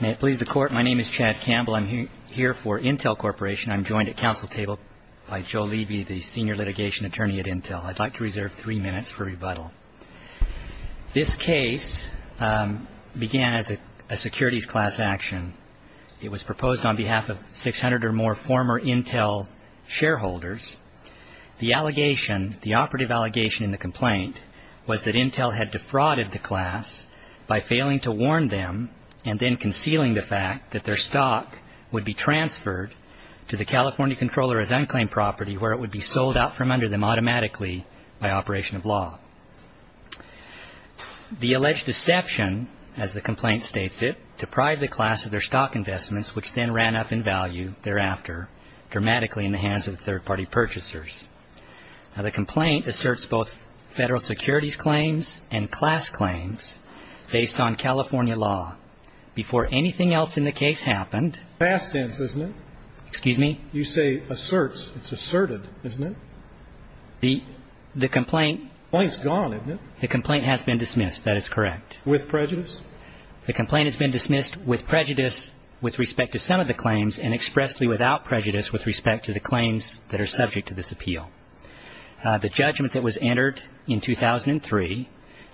May it please the court, my name is Chad Campbell. I'm here for Intel Corporation. I'm joined at council table by Joe Levy, the senior litigation attorney at Intel. I'd like to reserve three minutes for rebuttal. This case began as a securities class action. It was proposed on behalf of 600 or more former Intel shareholders. The allegation, the operative allegation in the fact that their stock would be transferred to the California Controller as unclaimed property where it would be sold out from under them automatically by operation of law. The alleged deception, as the complaint states it, deprived the class of their stock investments which then ran up in value thereafter dramatically in the hands of third party purchasers. Now the complaint asserts both federal securities claims and class claims based on California law before anything else in the case happened. Fast ends, isn't it? Excuse me? You say asserts, it's asserted, isn't it? The complaint. The complaint's gone, isn't it? The complaint has been dismissed, that is correct. With prejudice? The complaint has been dismissed with prejudice with respect to some of the claims and expressly without prejudice with respect to the claims that are subject to this appeal. The judgment that was entered in 2003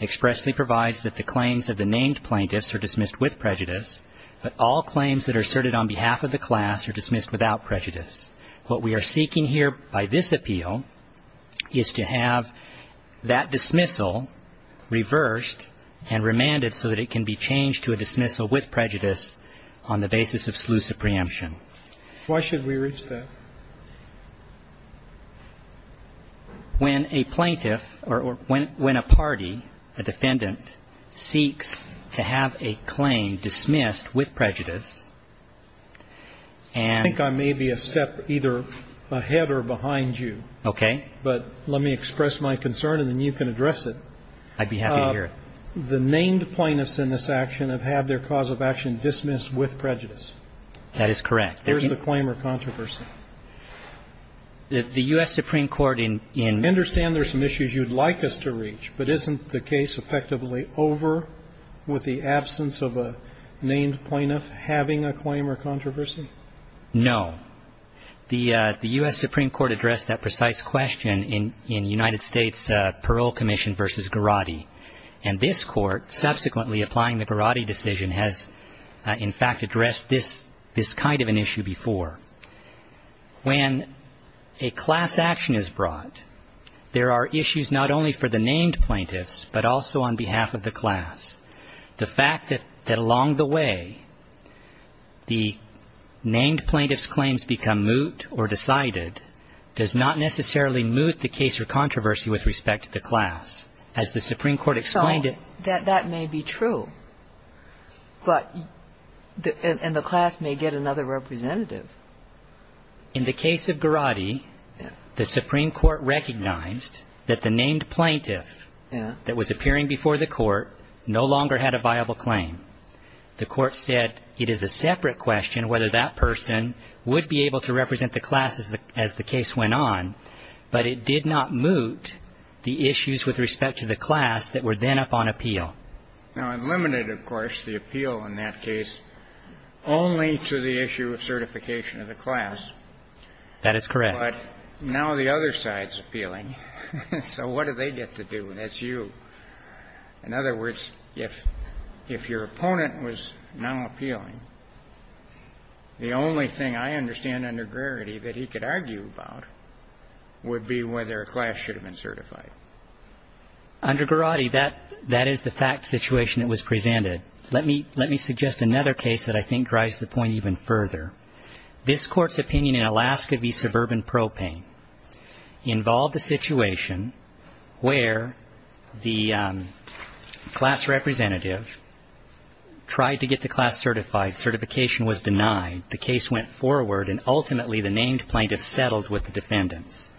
expressly provides that the claims of the named plaintiffs are dismissed with prejudice, but all claims that are asserted on behalf of the class are dismissed without prejudice. What we are seeking here by this appeal is to have that dismissal reversed and remanded so that it can be changed to a dismissal with prejudice on the basis of sleuths of preemption. Why should we reach that? When a plaintiff or when a party, a defendant, seeks to have a claim dismissed with prejudice and I think I may be a step either ahead or behind you. Okay. But let me express my concern and then you can address it. I'd be happy to hear it. The named plaintiffs in this action have had their cause of action dismissed with prejudice. That is correct. There's a claim or controversy. The U.S. Supreme Court in. I understand there's some issues you'd like us to reach, but isn't the case effectively over with the absence of a named plaintiff having a claim or controversy? No. The U.S. Supreme Court addressed that precise question in the United States Parole Commission v. Garrotti. And this Court subsequently applying the Garrotti decision has in fact addressed this kind of an issue before. When a class action is brought, there are issues not only for the named plaintiffs, but also on behalf of the class. The fact that along the way, the named plaintiff's claims become moot or decided does not necessarily moot the case or controversy with respect to the class. As the Supreme Court explained it. That may be true. But the class may get another representative. In the case of Garrotti, the Supreme Court recognized that the named plaintiff that was appearing before the court no longer had a viable claim. The court said it is a separate question whether that person would be able to represent the class as the case went on, but it did not moot the issues with respect to the class that were then up on appeal. Now, it limited, of course, the appeal in that case only to the issue of certification of the class. That is correct. But now the other side is appealing. So what do they get to do? That's you. In other words, if your opponent was now appealing, the only thing I understand under Garrotti that he could argue about would be whether a class should have been certified. Under Garrotti, that is the fact situation that was presented. Let me suggest another case that I think drives the point even further. This Court's opinion in Alaska v. Suburban Propane involved a situation where the class representative tried to get the class certified. Certification was denied. The case went forward, and ultimately the named plaintiff settled with the defendants.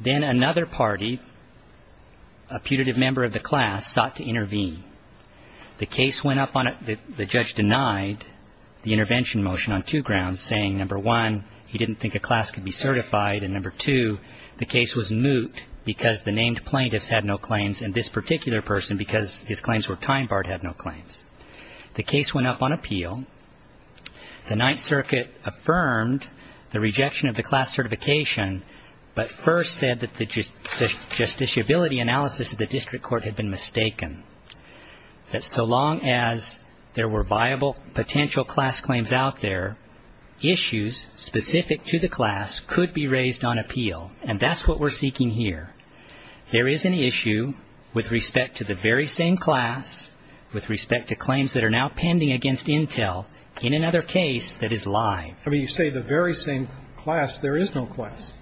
Then another party, a putative member of the class, sought to intervene. The case went up on the judge denied the intervention motion on two grounds, saying, number one, he didn't think a class could be certified, and number two, the case was moot because the named plaintiffs had no claims and this particular person, because his claims were time-barred, had no claims. The case went up on appeal. The Ninth Circuit affirmed the rejection of the class certification, but first said that the justiciability analysis of the district court had been mistaken, that so long as there were viable potential class claims out there, issues specific to the class could be raised on appeal, and that's what we're seeking here. There is an issue with respect to the very same class, with respect to claims that are now pending against Intel, in another case that is live. I mean, you say the very same class. There is no class.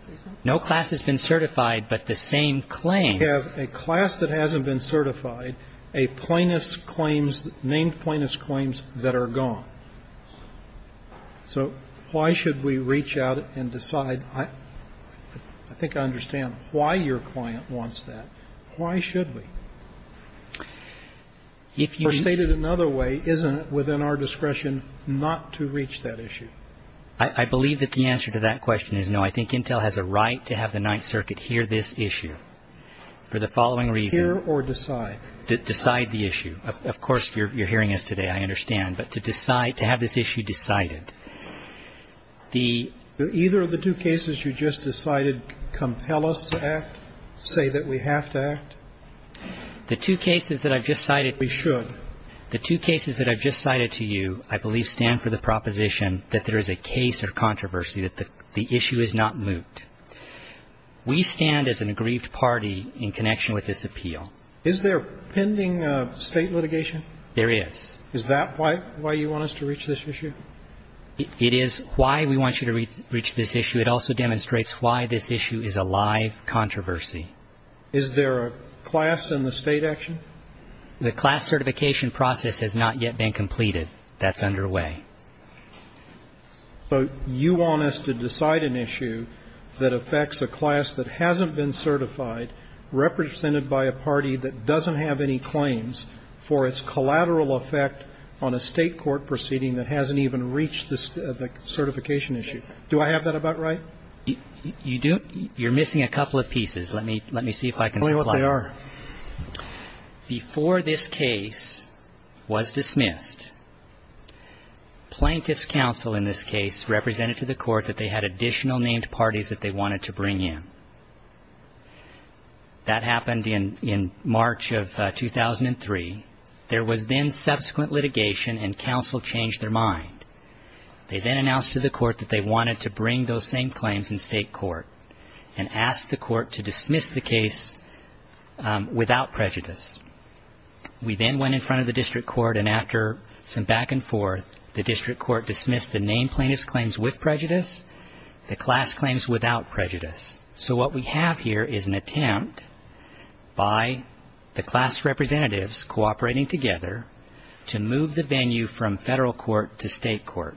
No class has been certified but the same claim. You have a class that hasn't been certified, a plaintiff's claims, named plaintiff's claims that are gone. So why should we reach out and decide? I think I understand why your client wants that. Why should we? Or stated another way, isn't it within our discretion not to reach that issue? I believe that the answer to that question is no. I think Intel has a right to have the Ninth Circuit hear this issue for the following reason. Hear or decide? Decide the issue. Of course, you're hearing us today, I understand, but to decide, to have this issue decided. Either of the two cases you just decided compel us to act, say that we have to act? The two cases that I've just cited. We should. The two cases that I've just cited to you, I believe, stand for the proposition that there is a case or controversy, that the issue is not moot. We stand as an aggrieved party in connection with this appeal. Is there pending State litigation? There is. Is that why you want us to reach this issue? It is why we want you to reach this issue. It also demonstrates why this issue is a live controversy. Is there a class in the State action? The class certification process has not yet been completed. That's underway. But you want us to decide an issue that affects a class that hasn't been certified, represented by a party that doesn't have any claims, for its collateral effect on a State court proceeding that hasn't even reached the certification issue. Do I have that about right? You don't. You're missing a couple of pieces. Let me see if I can supply you. Tell me what they are. Before this case was dismissed, plaintiff's counsel in this case represented to the court that they had additional named parties that they wanted to bring in. That happened in March of 2003. There was then subsequent litigation and counsel changed their mind. They then announced to the court that they wanted to bring those same claims in State court and asked the court to dismiss the case without prejudice. We then went in front of the district court and after some back and forth, the district court dismissed the named plaintiff's claims with prejudice, the class claims without prejudice. So what we have here is an attempt by the class representatives cooperating together to move the venue from Federal court to State court.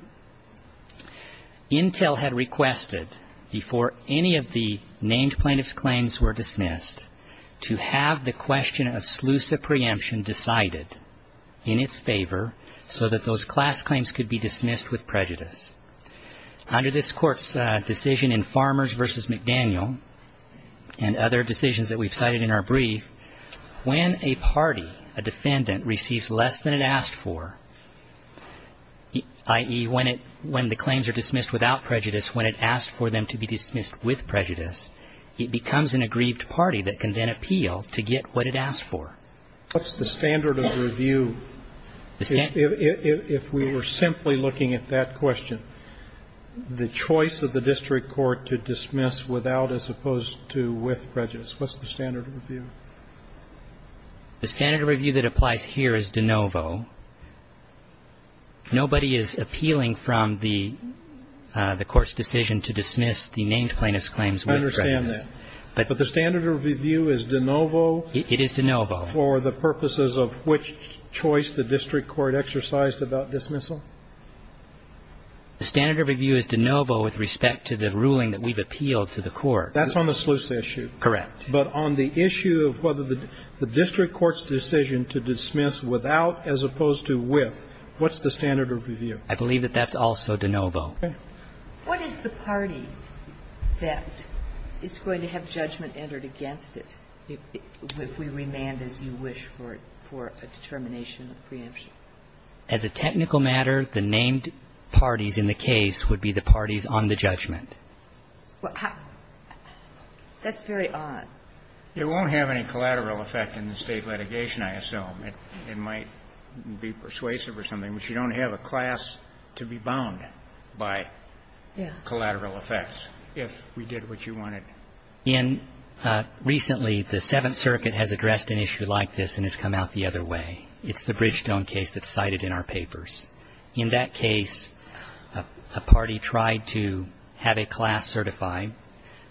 Intel had requested before any of the named plaintiff's claims were dismissed to have the question of Slusa preemption decided in its favor so that those class claims could be dismissed with prejudice. Under this court's decision in Farmers v. McDaniel and other decisions that we've cited in our brief, when a party, a defendant, receives less than it asked for, i.e., when the claims are dismissed without prejudice, when it asks for them to be dismissed with prejudice, it becomes an aggrieved party that can then appeal to get what it asked for. What's the standard of review if we were simply looking at that question? The choice of the district court to dismiss without as opposed to with prejudice. What's the standard of review? The standard of review that applies here is de novo. Nobody is appealing from the court's decision to dismiss the named plaintiff's claims with prejudice. I understand that. But the standard of review is de novo? It is de novo. For the purposes of which choice the district court exercised about dismissal? The standard of review is de novo with respect to the ruling that we've appealed to the court. That's on the sluice issue? Correct. But on the issue of whether the district court's decision to dismiss without as opposed to with, what's the standard of review? I believe that that's also de novo. What is the party that is going to have judgment entered against it if we remand as you wish for a determination of preemption? As a technical matter, the named parties in the case would be the parties on the judgment. That's very odd. It won't have any collateral effect in the state litigation, I assume. It might be persuasive or something, but you don't have a class to be bound by collateral effects if we did what you wanted. Ian, recently the Seventh Circuit has addressed an issue like this and has come out the other way. It's the Bridgestone case that's cited in our papers. In that case, a party tried to have a class certified.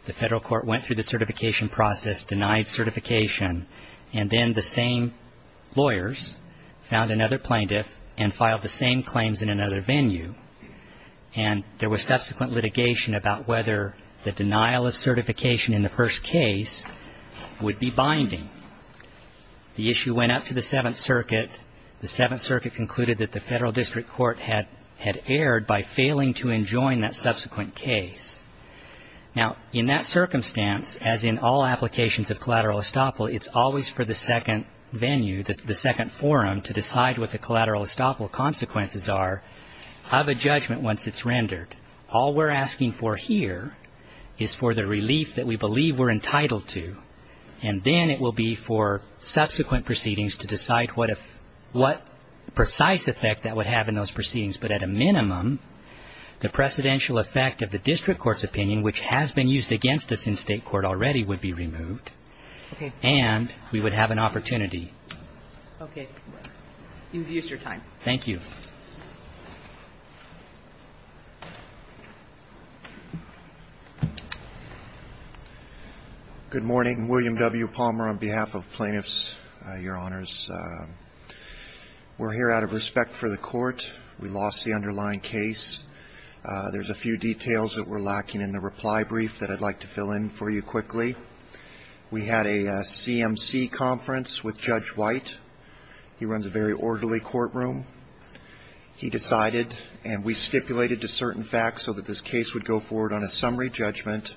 The federal court went through the certification process, denied certification, and then the same lawyers found another plaintiff and filed the same claims in another venue. And there was subsequent litigation about whether the denial of certification in the first case would be binding. The issue went up to the Seventh Circuit. The Seventh Circuit concluded that the federal district court had erred by failing to enjoin that subsequent case. Now, in that circumstance, as in all applications of collateral estoppel, it's always for the second venue, the second forum, to decide what the collateral estoppel consequences are of a judgment once it's rendered. All we're asking for here is for the relief that we believe we're entitled to, and then it will be for subsequent proceedings to decide what precise effect that would have in those proceedings. But at a minimum, the precedential effect of the district court's opinion, which has been used against us in state court already, would be removed, and we would have an opportunity. Okay. You've used your time. Thank you. Good morning. William W. Palmer on behalf of plaintiffs, your honors. We're here out of respect for the court. We lost the underlying case. There's a few details that were lacking in the reply brief that I'd like to fill in for you quickly. We had a CMC conference with Judge White. He runs a very orderly courtroom. He decided, and we stipulated to certain facts so that this case would go forward on a summary judgment.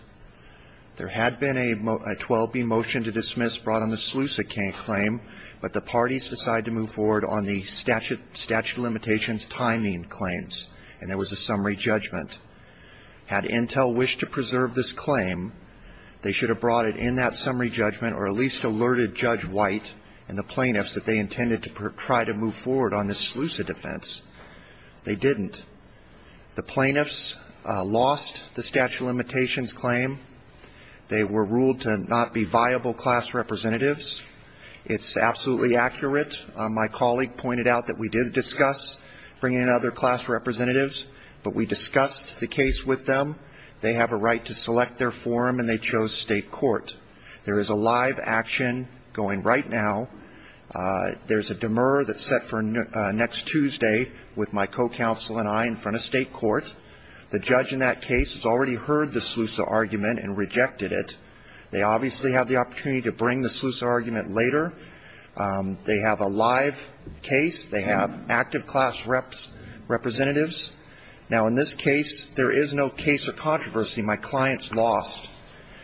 There had been a 12B motion to dismiss brought on the SLUSA claim, but the parties decided to move forward on the statute of limitations timing claims, and there was a summary judgment. Had Intel wished to preserve this claim, they should have brought it in that summary judgment or at least alerted Judge White and the plaintiffs that they intended to try to move forward on the SLUSA defense. They didn't. The plaintiffs lost the statute of limitations claim. They were ruled to not be viable class representatives. It's absolutely accurate. My colleague pointed out that we did discuss bringing in other class representatives, but we discussed the case with them. They have a right to select their forum, and they chose state court. There is a live action going right now. There's a demur that's set for next Tuesday with my co-counsel and I in front of state court. The judge in that case has already heard the SLUSA argument and rejected it. They obviously have the opportunity to bring the SLUSA argument later. They have a live case. They have active class representatives. Now, in this case, there is no case of controversy. My client's lost.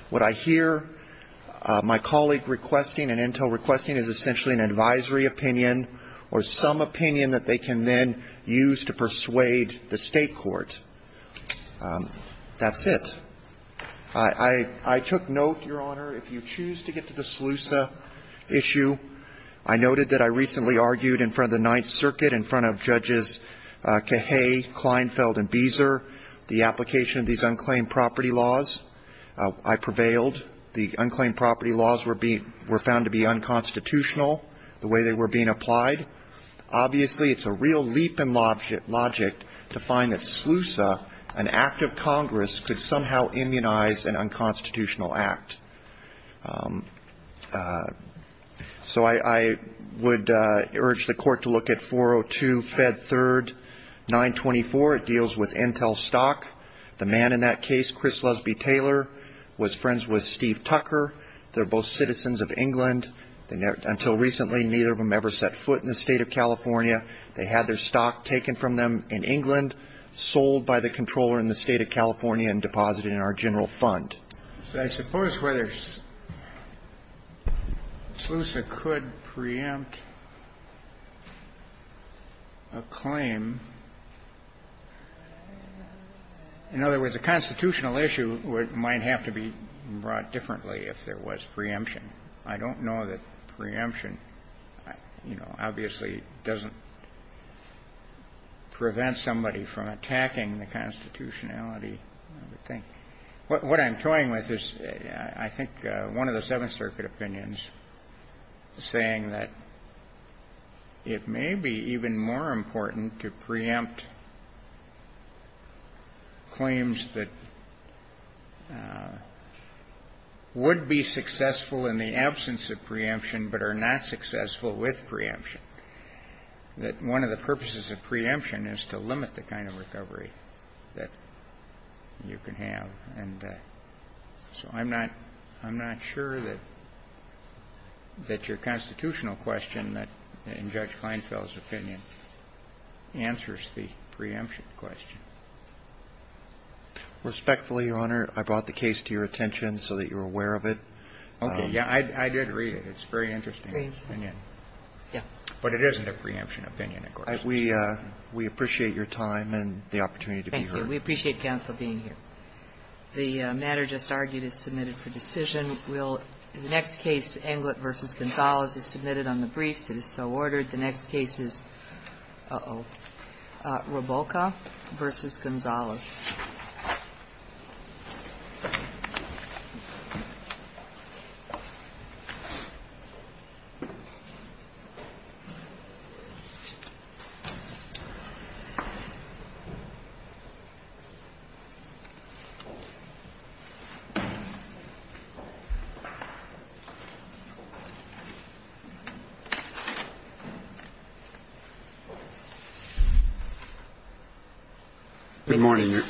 What I hear my colleague requesting and Intel requesting is essentially an advisory opinion or some opinion that they can then use to persuade the state court. That's it. I took note, Your Honor, if you choose to get to the SLUSA issue, I noted that I recently argued in front of the Ninth Circuit, in front of Judges Cahay, Kleinfeld, and Beezer, the I prevailed. The unclaimed property laws were found to be unconstitutional, the way they were being applied. Obviously, it's a real leap in logic to find that SLUSA, an act of Congress, could somehow immunize an unconstitutional act. So I would urge the court to look at 402, Fed 3rd, 924. It deals with Intel stock. The man in that case, Chris Lusby Taylor, was friends with Steve Tucker. They're both citizens of England. Until recently, neither of them ever set foot in the state of California. They had their stock taken from them in England, sold by the controller in the state of California and deposited in our general fund. But I suppose whether SLUSA could preempt a claim, in other words, a constitutional issue might have to be brought differently if there was preemption. I don't know that preemption, you know, obviously doesn't prevent somebody from attacking the constitutionality of the thing. What I'm toying with is, I think, one of the Seventh Circuit opinions saying that it may be even more important to preempt claims that would be successful in the absence of preemption but are not successful with preemption, that one of the purposes of preemption is to limit the kind of recovery that you can have. And so I'm not sure that your constitutional question, in Judge Kleinfeld's opinion, answers the preemption question. Respectfully, Your Honor, I brought the case to your attention so that you're aware of it. Okay. Yeah, I did read it. It's a very interesting opinion. Yeah. But it isn't a preemption opinion, of course. We appreciate your time and the opportunity to be here. Thank you. We appreciate counsel being here. The matter just argued is submitted for decision. Will the next case, Englert v. Gonzalez, is submitted on the briefs. It is so ordered. The next case is Roboca v. Gonzalez. Thank you. Good morning.